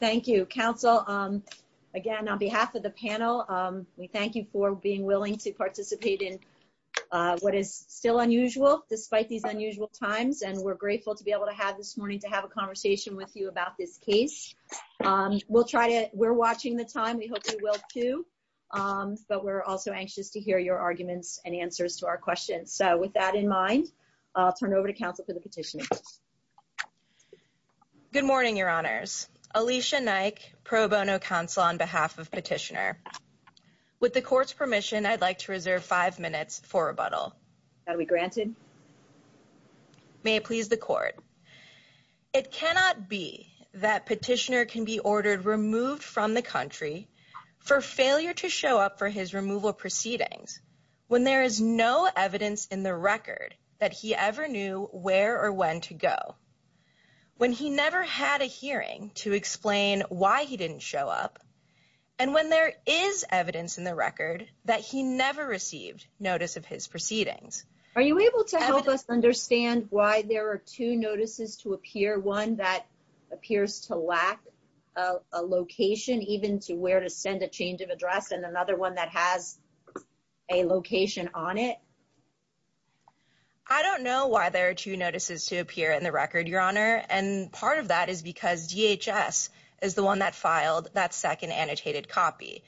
thank you counsel again on behalf of the panel we thank you for being willing to participate in what is still unusual despite these unusual times and we're grateful to be able to have this morning to have a conversation with you about this case we'll try to we're watching the time we hope you will too but we're also anxious to hear your arguments and answers to our questions so with that in mind I'll turn over to counsel for the petitioner. Good morning your honors Alicia Naik pro bono counsel on behalf of petitioner with the court's permission I'd like to reserve five minutes for rebuttal. That'll be granted. May it please the court. It cannot be that petitioner can be ordered removed from the country for failure to show up for his removal proceedings when there is no evidence in the record that he ever knew where or when to go when he never had a hearing to explain why he didn't show up and when there is evidence in the record that he never received notice of his proceedings. Are you able to help us understand why there are two notices to appear one that appears to lack a location even to where to send a change of address and another one that has a I don't know why there are two notices to appear in the record your honor and part of that is because DHS is the one that filed that second annotated copy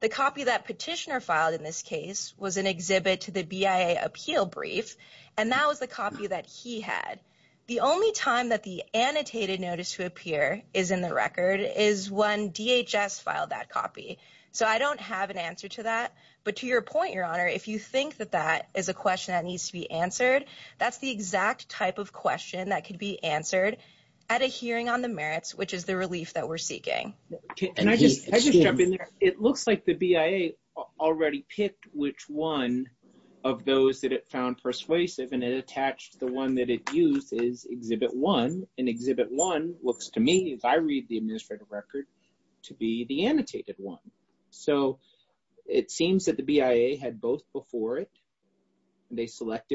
the copy that petitioner filed in this case was an exhibit to the BIA appeal brief and that was the copy that he had the only time that the annotated notice to appear is in the record is when DHS filed that copy so I don't have an answer to that but to your point your honor if you think that that is a answer that's the exact type of question that could be answered at a hearing on the merits which is the relief that we're seeking and I just I just jump in there it looks like the BIA already picked which one of those that it found persuasive and it attached the one that it used is exhibit one and exhibit one looks to me as I read the administrative record to be the annotated one so it did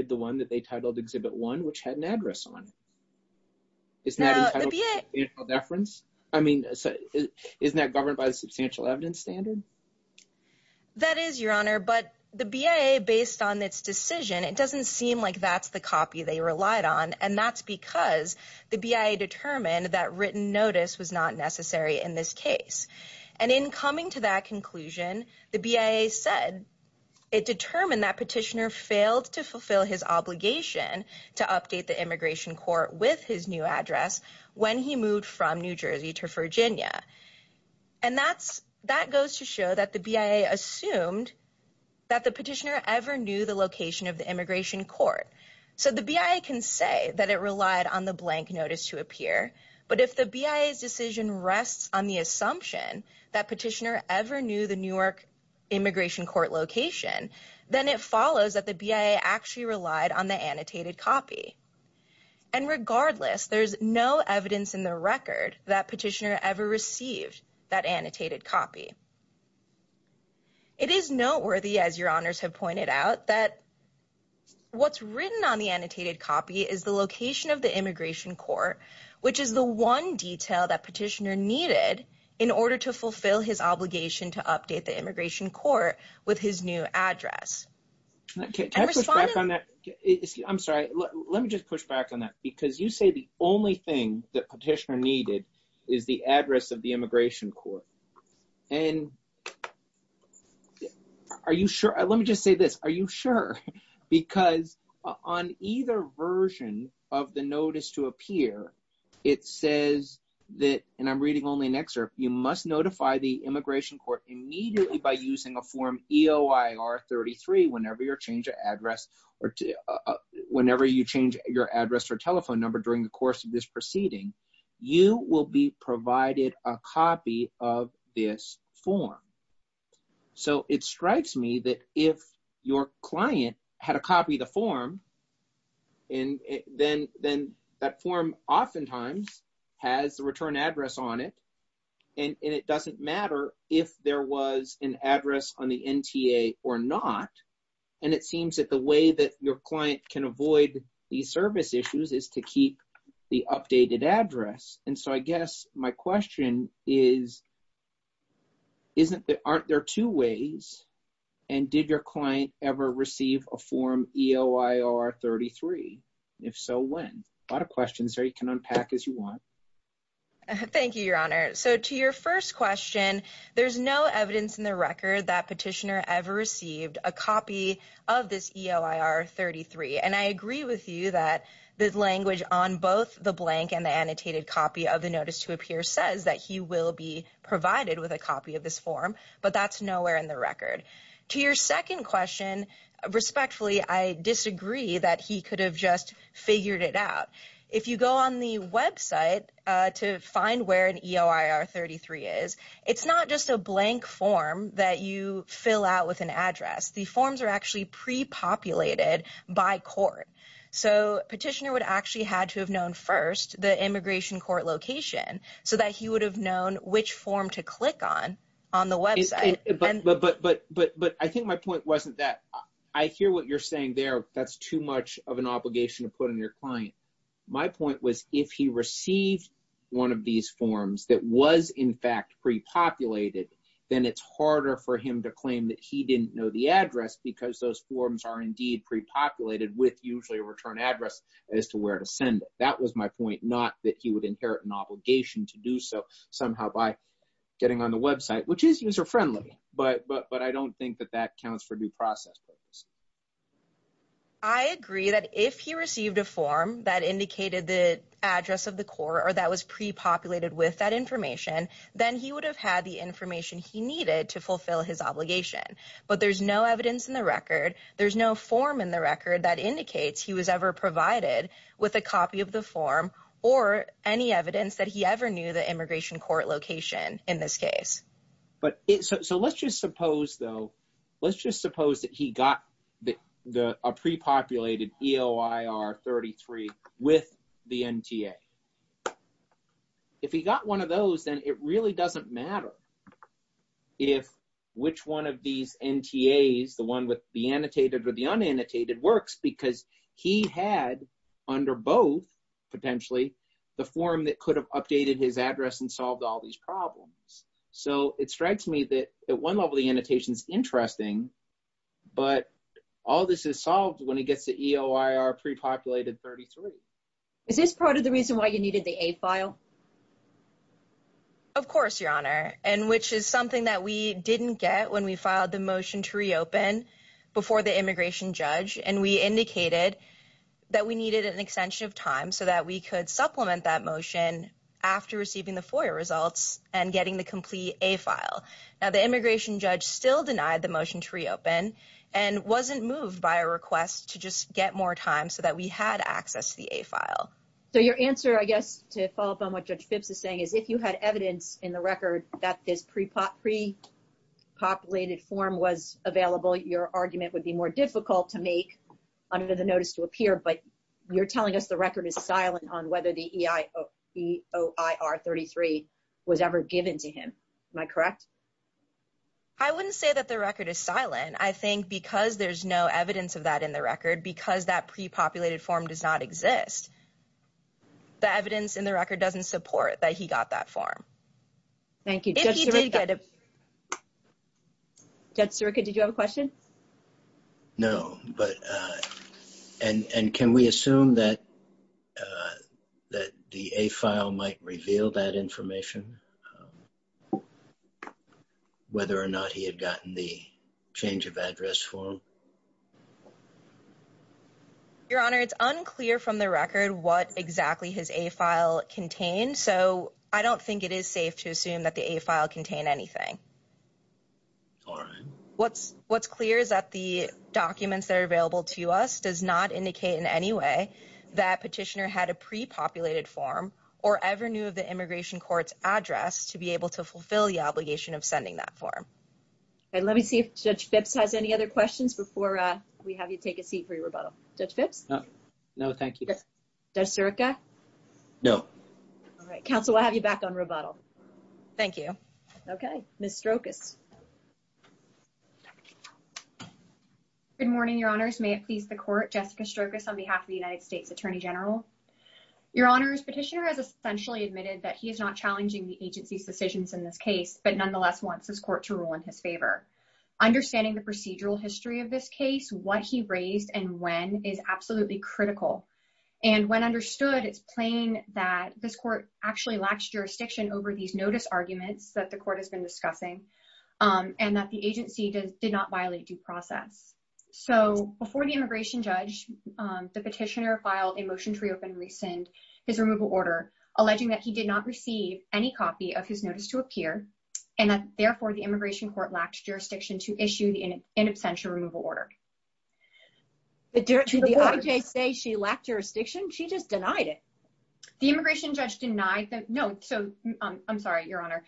the one that they titled exhibit one which had an address on it it's not a deference I mean isn't that governed by the substantial evidence standard that is your honor but the BIA based on its decision it doesn't seem like that's the copy they relied on and that's because the BIA determined that written notice was not necessary in this case and in coming to that conclusion the BIA said it determined that petitioner failed to fulfill his obligation to update the immigration court with his new address when he moved from New Jersey to Virginia and that's that goes to show that the BIA assumed that the petitioner ever knew the location of the immigration court so the BIA can say that it relied on the blank notice to appear but if the BIA's rests on the assumption that petitioner ever knew the Newark immigration court location then it follows that the BIA actually relied on the annotated copy and regardless there's no evidence in the record that petitioner ever received that annotated copy it is noteworthy as your honors have pointed out that what's written on the annotated copy is the location of the immigration court which is the one detail that petitioner needed in order to fulfill his obligation to update the immigration court with his new address i'm sorry let me just push back on that because you say the only thing that petitioner needed is the address of the immigration court and are you sure let me just say this are you sure because on either version of the notice to appear it says that and i'm reading only an excerpt you must notify the immigration court immediately by using a form eoir 33 whenever your change of address or whenever you change your address or telephone number during the course of this proceeding you will be provided a copy of this form so it strikes me that if your client had a copy of the form and then then that form oftentimes has the return address on it and it doesn't matter if there was an address on the nta or not and it seems that the way that your client can avoid these service issues is to keep the updated address and so i guess my question is isn't there aren't there two ways and did your client ever receive a form eoir 33 if so when a lot of questions are you can unpack as you want thank you your honor so to your first question there's no evidence in the record that petitioner ever received a copy of this eoir 33 and i agree with you that the language on both the blank and the annotated copy of the notice to appear says that he will be provided with a copy of this form but that's nowhere in the record to your second question respectfully i disagree that he could have just figured it out if you go on the website to find where an eoir 33 is it's not just a blank form that you fill out with an so petitioner would actually had to have known first the immigration court location so that he would have known which form to click on on the website but but but but but i think my point wasn't that i hear what you're saying there that's too much of an obligation to put in your client my point was if he received one of these forms that was in fact pre-populated then it's harder for him to claim that he didn't know the address because those forms are indeed pre-populated with usually a return address as to where to send it that was my point not that he would inherit an obligation to do so somehow by getting on the website which is user-friendly but but but i don't think that that counts for due process purposes i agree that if he received a form that indicated the address of the court or that was pre-populated with that information then he would have had the information he needed to fulfill his obligation but there's no evidence in the record there's no form in the record that indicates he was ever provided with a copy of the form or any evidence that he ever knew the immigration court location in this case but so let's just suppose though let's just suppose that he got the the a pre-populated eoir 33 with the nta okay if he got one of those then it really doesn't matter if which one of these ntas the one with the annotated or the unannotated works because he had under both potentially the form that could have updated his address and solved all these problems so it strikes me that at one level the annotation is interesting but all this is solved when he gets the eoir pre-populated 33 is this part of the reason why you needed the a file of course your honor and which is something that we didn't get when we filed the motion to reopen before the immigration judge and we indicated that we needed an extension of time so that we could supplement that motion after receiving the foyer results and getting the complete a file now the immigration judge still denied the motion to reopen and wasn't moved by a request to just get more time so that we had access to the a file so your answer i guess to follow up on what judge phipps is saying is if you had evidence in the record that this pre-pop pre-populated form was available your argument would be more difficult to make under the notice to appear but you're telling us the record is silent on whether the eoir 33 was ever given to him am i correct i wouldn't say that the record is silent i think because there's no evidence of that in the record because that pre-populated form does not exist the evidence in the record doesn't support that he got that form thank you judge surika did you have a question no but uh and and can we assume that that the a file might reveal that information whether or not he had gotten the change of address form your honor it's unclear from the record what exactly his a file contained so i don't think it is safe to assume that the a file contain anything all right what's what's clear is that the documents that are available to us does not indicate in any way that petitioner had a pre-populated form or ever knew of the immigration court's address to be able to fulfill the obligation of sending that form all right let me see if judge phipps has any other questions before we have you take a seat for your rebuttal judge phipps no no thank you does circa no all right counsel i'll have you back on rebuttal thank you okay miss strokis good morning your honors may it please the court jessica strokis on behalf of the united states attorney general your honors petitioner has essentially admitted that he is not challenging the agency's decisions in this case but nonetheless wants his court to rule in his favor understanding the procedural history of this case what he raised and when is absolutely critical and when understood it's plain that this court actually lacks jurisdiction over these notice arguments that the court has been discussing um and that the agency did not violate due process so before the immigration judge the petitioner filed a motion to reopen rescind his removal order alleging that he did not receive any copy of his notice to appear and that therefore the to issue the in absentia removal order the director of the ij say she lacked jurisdiction she just denied it the immigration judge denied that no so i'm sorry your honor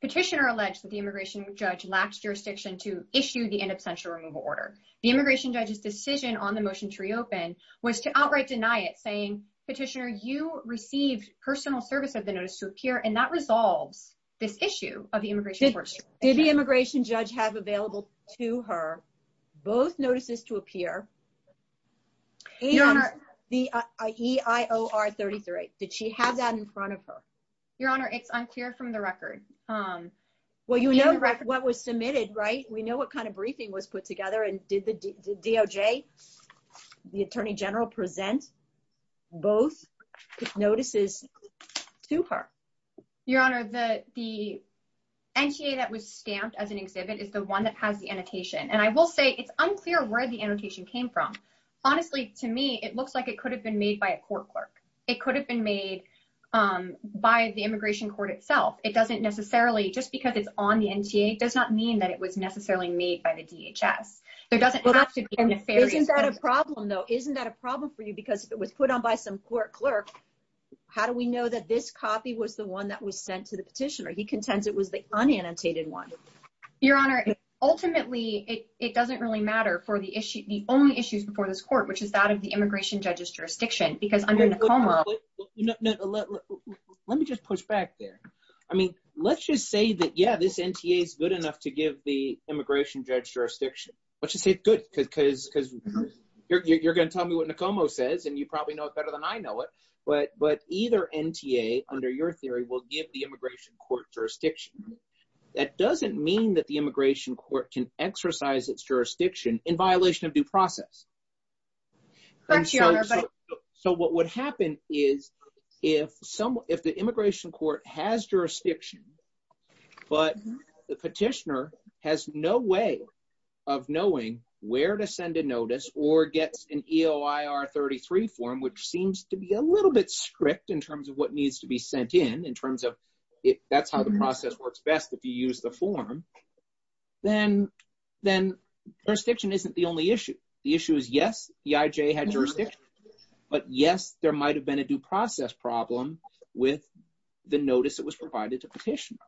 petitioner alleged that the immigration judge lacked jurisdiction to issue the in absentia removal order the immigration judge's decision on the motion to reopen was to outright deny it saying petitioner you received personal service of the notice to appear and that resolves this issue of the immigration judge have available to her both notices to appear the eior 33 did she have that in front of her your honor it's unclear from the record um well you know what was submitted right we know what kind of briefing was put together and did the nta that was stamped as an exhibit is the one that has the annotation and i will say it's unclear where the annotation came from honestly to me it looks like it could have been made by a court clerk it could have been made um by the immigration court itself it doesn't necessarily just because it's on the nta does not mean that it was necessarily made by the dhs there doesn't have to be a problem though isn't that a problem for you because if it was put on by some court clerk how do we know that this copy was the one that was sent to the petitioner he contends it was the unannotated one your honor ultimately it doesn't really matter for the issue the only issues before this court which is that of the immigration judge's jurisdiction because under let me just push back there i mean let's just say that yeah this nta is good enough to give the immigration judge jurisdiction let's just say good because because you're going to tell me what nicomo says and you probably know it better than i know it but but either nta under your theory will give the immigration court jurisdiction that doesn't mean that the immigration court can exercise its jurisdiction in violation of due process so what would happen is if someone if the immigration court has jurisdiction but the petitioner has no way of knowing where to send a notice or gets an eoir 33 form which in terms of it that's how the process works best if you use the form then then jurisdiction isn't the only issue the issue is yes eij had jurisdiction but yes there might have been a due process problem with the notice that was provided to petitioner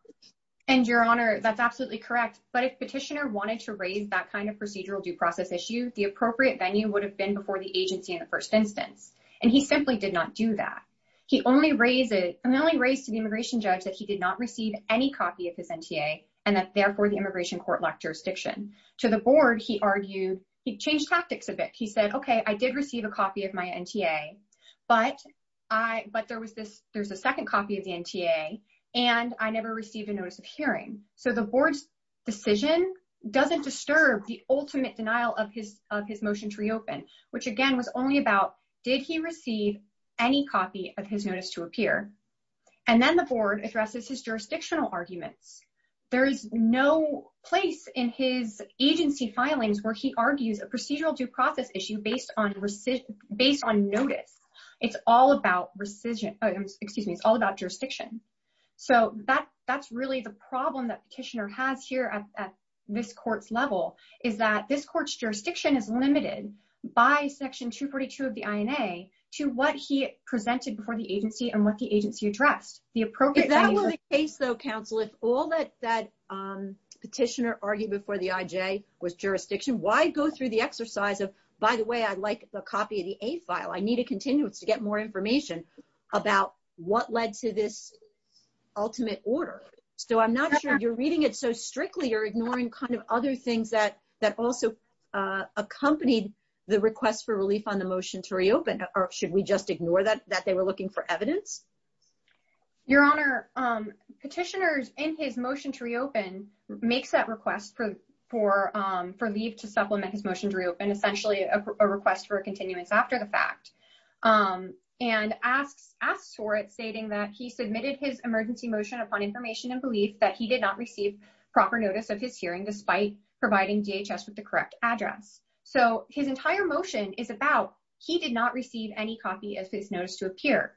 and your honor that's absolutely correct but if petitioner wanted to raise that kind of procedural due process issue the appropriate venue would have been before the agency in the first instance and he simply did not do that he only raised it and only raised to the immigration judge that he did not receive any copy of his nta and that therefore the immigration court lacked jurisdiction to the board he argued he changed tactics a bit he said okay i did receive a copy of my nta but i but there was this there's a second copy of the nta and i never received a notice of hearing so the board's decision doesn't disturb the ultimate denial of his of his motion to reopen which again was only about did he receive any copy of his notice to appear and then the board addresses his jurisdictional arguments there is no place in his agency filings where he argues a procedural due process issue based on recid based on notice it's all about rescission excuse me it's all about jurisdiction so that that's really the problem that petitioner has here at this court's level is that this court's jurisdiction is limited by section 242 of the ina to what he presented before the agency and what the agency addressed the appropriate that was the case though counsel if all that that um petitioner argued before the ij was jurisdiction why go through the exercise of by the way i'd like a copy of the a file i need a continuance to get more information about what led to this ultimate order so i'm not sure you're reading it so strictly or ignoring kind of other things that that also uh accompanied the request for relief on the motion to reopen or should we just ignore that that they were looking for evidence your honor um petitioners in his motion to reopen makes that request for for um for leave to supplement his motion to reopen essentially a request for a continuance after the fact um and asks asks for it stating that he submitted his emergency motion upon information and belief that he did not receive proper notice of his hearing despite providing dhs with the correct address so his entire motion is about he did not receive any copy as his notice to appear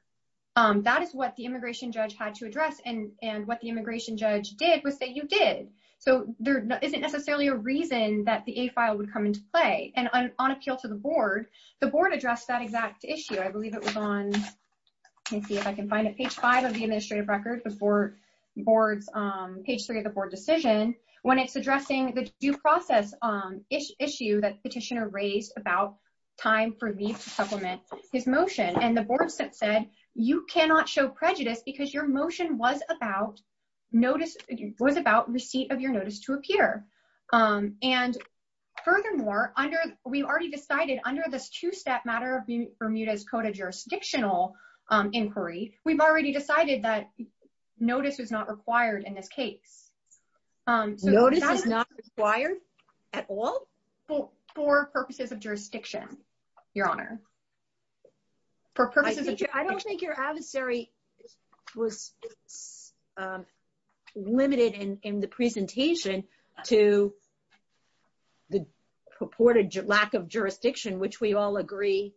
um that is what the immigration judge had to address and and what the immigration judge did was say you did so there isn't necessarily a reason that the a file would come into play and on appeal to the board the board addressed that exact issue i believe it was on let me see if i can find it page five of the administrative record before boards um page three of the board decision when it's addressing the due process um issue that petitioner raised about time for me to supplement his motion and the boards that said you cannot show prejudice because your motion was about notice was about receipt of your notice to appear um and furthermore under we already decided under this two-step matter of bermuda's coda jurisdictional inquiry we've already decided that notice was not required in this case um notice is not required at all for purposes of jurisdiction your honor for purposes i don't think your adversary was limited in in the presentation to the purported lack of jurisdiction which we all agree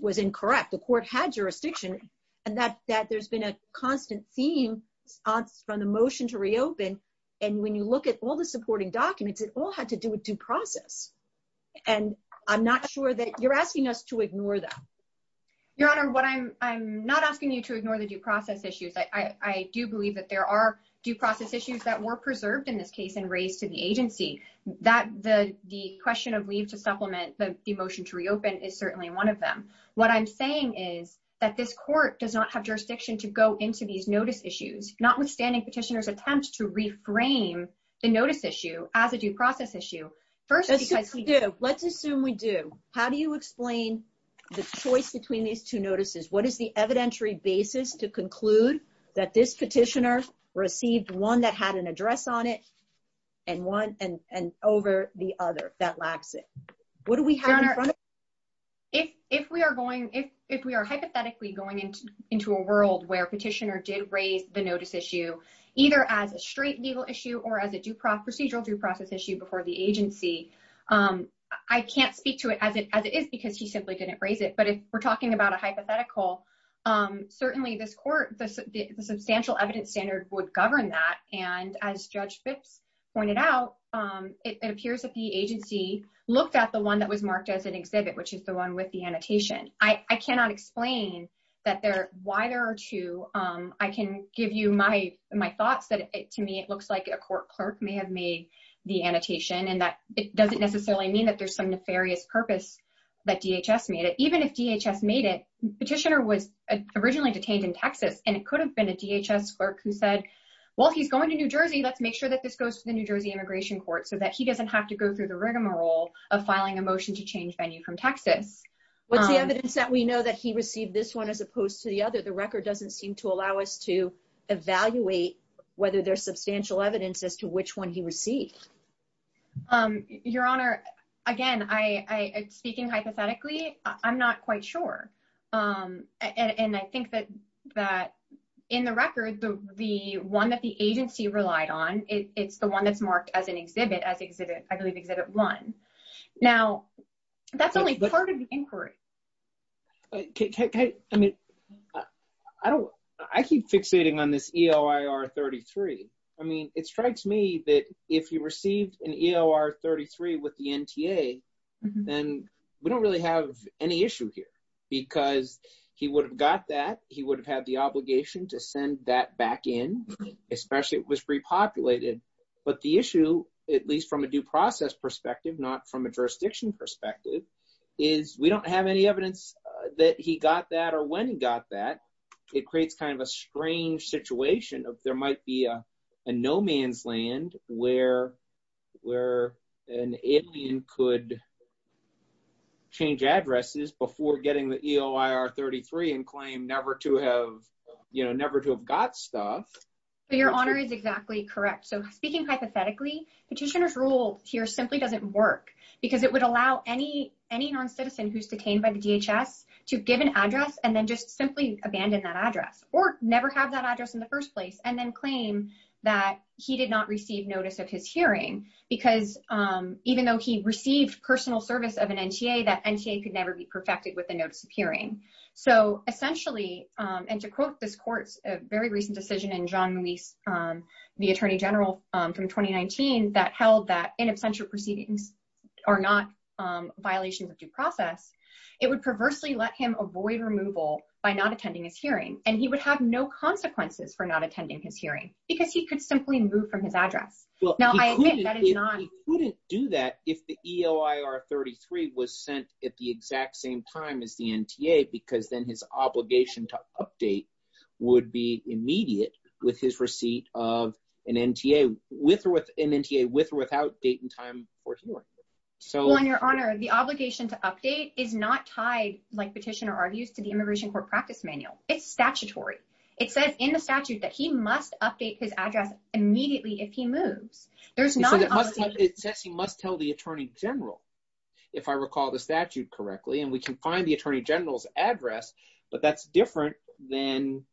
was incorrect the court had jurisdiction and that that there's been a constant theme from the motion to reopen and when you look at all the supporting documents it all had to do with due process and i'm not sure that you're asking us to ignore that your honor what i'm i'm not asking you to ignore the due process issues i i do believe that there are due process issues that were preserved in this case and raised to the agency that the the question of leave to reopen is certainly one of them what i'm saying is that this court does not have jurisdiction to go into these notice issues notwithstanding petitioner's attempts to reframe the notice issue as a due process issue first let's assume we do how do you explain the choice between these two notices what is the evidentiary basis to conclude that this petitioner received one that if if we are going if if we are hypothetically going into into a world where petitioner did raise the notice issue either as a straight legal issue or as a due proc procedural due process issue before the agency um i can't speak to it as it as it is because he simply didn't raise it but if we're talking about a hypothetical um certainly this court the substantial evidence standard would govern that and as judge phipps pointed out um it appears that the agency looked at the one that was marked as an exhibit which is the one with the annotation i i cannot explain that there why there are two um i can give you my my thoughts that to me it looks like a court clerk may have made the annotation and that it doesn't necessarily mean that there's some nefarious purpose that dhs made it even if dhs made it petitioner was originally detained in texas and it could have been a dhs clerk who said well he's going to new jersey let's make sure that this goes to the new jersey immigration court so that he doesn't have to go through the rigmarole of filing a motion to change venue from texas what's the evidence that we know that he received this one as opposed to the other the record doesn't seem to allow us to evaluate whether there's substantial evidence as to which one he received um your honor again i i speaking hypothetically i'm not quite sure um and i think that that in the record the the one that the agency relied on it's the one that's only part of the inquiry okay i mean i don't i keep fixating on this eoir 33 i mean it strikes me that if he received an eor 33 with the nta then we don't really have any issue here because he would have got that he would have had the obligation to send that back in especially it was repopulated but the issue at least from a due process perspective not from a jurisdiction perspective is we don't have any evidence that he got that or when he got that it creates kind of a strange situation of there might be a no man's land where where an alien could change addresses before getting the eoir 33 and claim never to have you know never to have got stuff your honor is exactly correct so speaking hypothetically petitioners ruled here simply doesn't work because it would allow any any non-citizen who's detained by the dhs to give an address and then just simply abandon that address or never have that address in the first place and then claim that he did not receive notice of his hearing because um even though he received personal service of an nta that nta could never be perfected with the notice of hearing so essentially um and to quote this court's a very recent decision in john muise um the attorney general um from 2019 that held that in absentia proceedings are not um violations of due process it would perversely let him avoid removal by not attending his hearing and he would have no consequences for not attending his hearing because he could simply move from his address now i admit that is not he couldn't do that if the eoir 33 was sent at the exact same time as the nta because then his obligation to update would be immediate with his receipt of an nta with or with an nta with or without date and time for hearing so on your honor the obligation to update is not tied like petitioner argues to the immigration court practice manual it's statutory it says in the statute that he must update his address immediately if he moves there's it says he must tell the attorney general if i recall the statute correctly and we can find attorney general's address but that's different than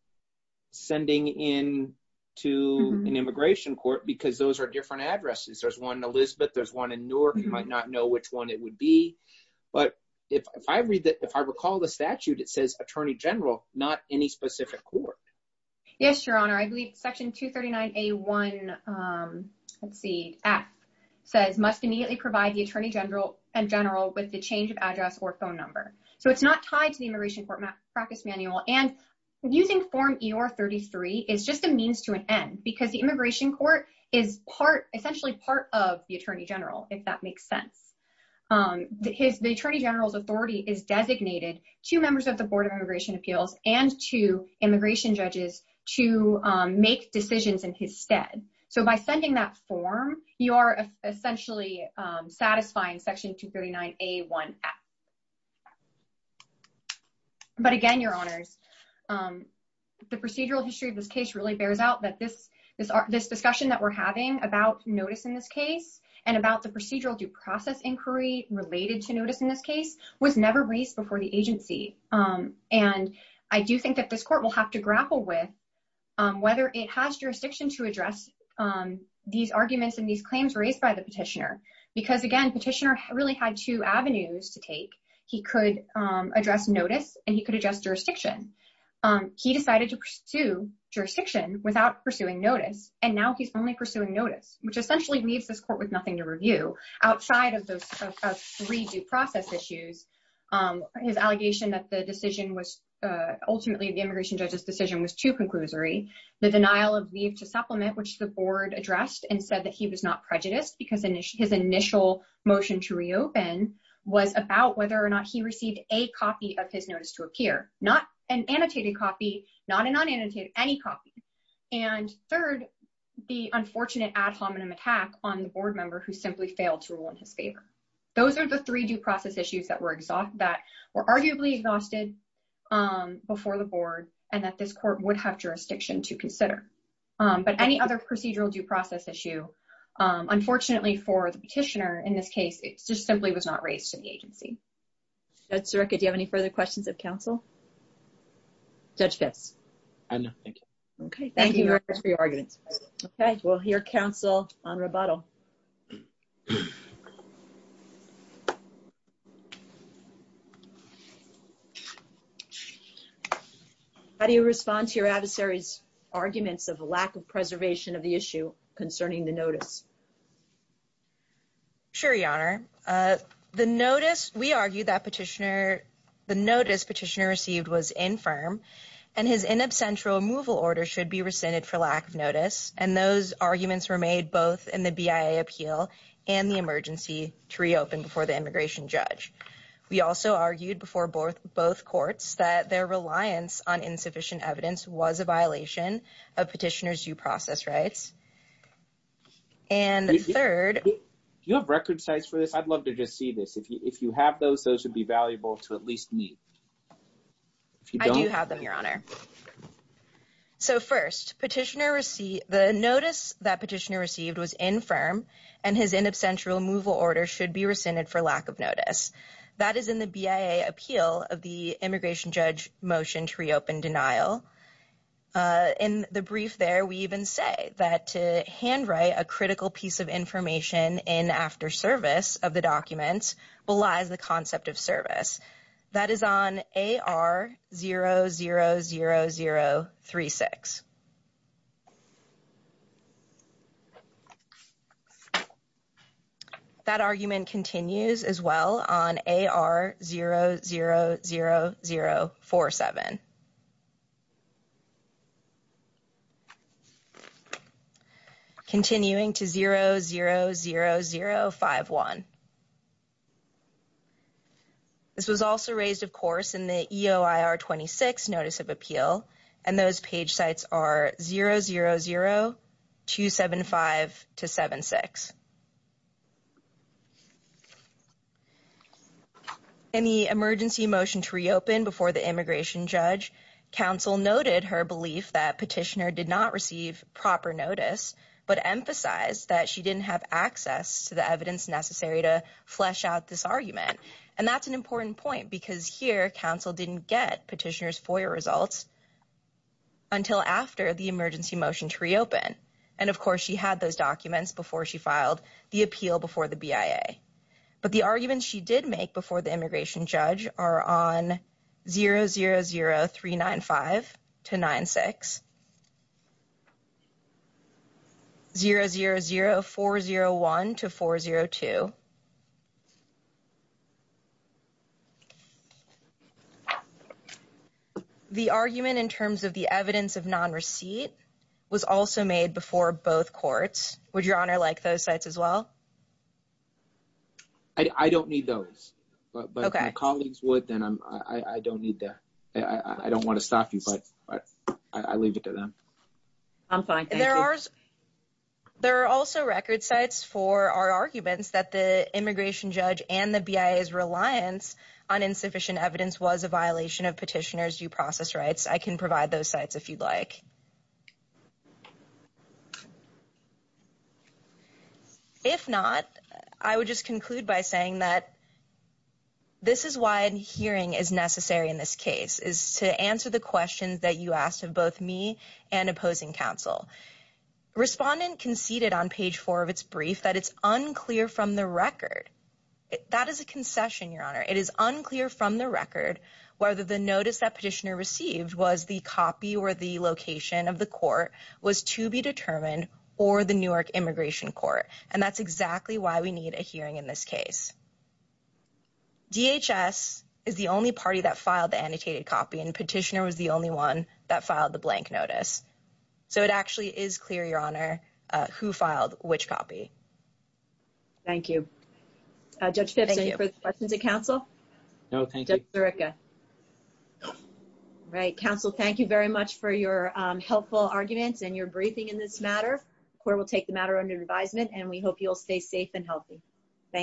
sending in to an immigration court because those are different addresses there's one elizabeth there's one in newark you might not know which one it would be but if i read that if i recall the statute it says attorney general not any specific court yes your honor i believe section 239 a1 um let's see f says must immediately provide the attorney general and general with the change of address or phone number so it's not tied to the immigration court practice manual and using form eor 33 is just a means to an end because the immigration court is part essentially part of the attorney general if that makes sense um his the attorney general's authority is designated to members of the board of immigration appeals and to immigration judges to um make decisions in his stead so by sending that form you are essentially um satisfying section 239 a1 f but again your honors um the procedural history of this case really bears out that this is this discussion that we're having about notice in this case and about the procedural due process inquiry related to notice in this case was never raised before the agency um and i do think that this court will have to grapple with um whether it has jurisdiction to address um these arguments and these claims raised by the petitioner because again petitioner really had two avenues to take he could um address notice and he could adjust jurisdiction um he decided to pursue jurisdiction without pursuing notice and now he's only pursuing notice which essentially leaves this court with nothing to review outside of those three due process issues um his allegation that the decision was uh ultimately the immigration judge's decision was too conclusory the denial of leave to not prejudiced because his initial motion to reopen was about whether or not he received a copy of his notice to appear not an annotated copy not a non-annotated any copy and third the unfortunate ad hominem attack on the board member who simply failed to rule in his favor those are the three due process issues that were exhausted that were arguably exhausted um before the board and that this court would have jurisdiction to consider um but any other procedural due process issue um unfortunately for the petitioner in this case it just simply was not raised to the agency that's a record do you have any further questions of counsel judge pitts i know thank you okay thank you for your arguments okay we'll hear counsel on rebuttal um how do you respond to your adversary's arguments of a lack of preservation of the issue concerning the notice sure your honor uh the notice we argue that petitioner the notice petitioner received was infirm and his in absent removal order should be rescinded for lack of to reopen before the immigration judge we also argued before both both courts that their reliance on insufficient evidence was a violation of petitioners due process rights and the third do you have record sites for this i'd love to just see this if you if you have those those would be valuable to at least me if you don't have them your honor so first petitioner the notice that petitioner received was infirm and his in absent removal order should be rescinded for lack of notice that is in the bia appeal of the immigration judge motion to reopen denial in the brief there we even say that to hand write a critical piece of information in after service of the documents belies the concept of service that is on ar 000036 so that argument continues as well on ar 00047 continuing to 00051 this was also raised of course in the eoir 26 notice of appeal and those page sites are 000275 to 76 in the emergency motion to reopen before the immigration judge council noted her belief that petitioner did not receive proper notice but emphasized that she didn't have access to the evidence necessary to flesh out this argument and that's an important point because here council didn't get petitioners foyer results until after the emergency motion to reopen and of course she had those documents before she filed the appeal before the bia but the arguments she did make before the immigration judge are on 000395 to 96 000401 to 402 the argument in terms of the evidence of non-receipt was also made before both courts would your honor like those sites as well i don't need those but my colleagues would then i'm i don't need to i i don't want to stop you but i i leave it to them i'm fine there are there are also record sites for our arguments that the immigration judge and the bia's reliance on insufficient evidence was a violation of petitioners due process rights i can provide those sites if you'd like so if not i would just conclude by saying that this is why hearing is necessary in this case is to answer the questions that you asked of both me and opposing counsel respondent conceded on page four of its brief that it's unclear from the record that is a concession your honor it is unclear from the record whether the notice that petitioner received was the copy or the location of the court was to be determined or the newark immigration court and that's exactly why we need a hearing in this case dhs is the only party that filed the annotated copy and petitioner was the only one that filed the blank notice so it actually is clear your honor uh who filed which copy thank you uh judge for the questions of counsel no thank you erica right counsel thank you very much for your helpful arguments and your briefing in this matter where we'll take the matter under advisement and we hope you'll stay safe and healthy thank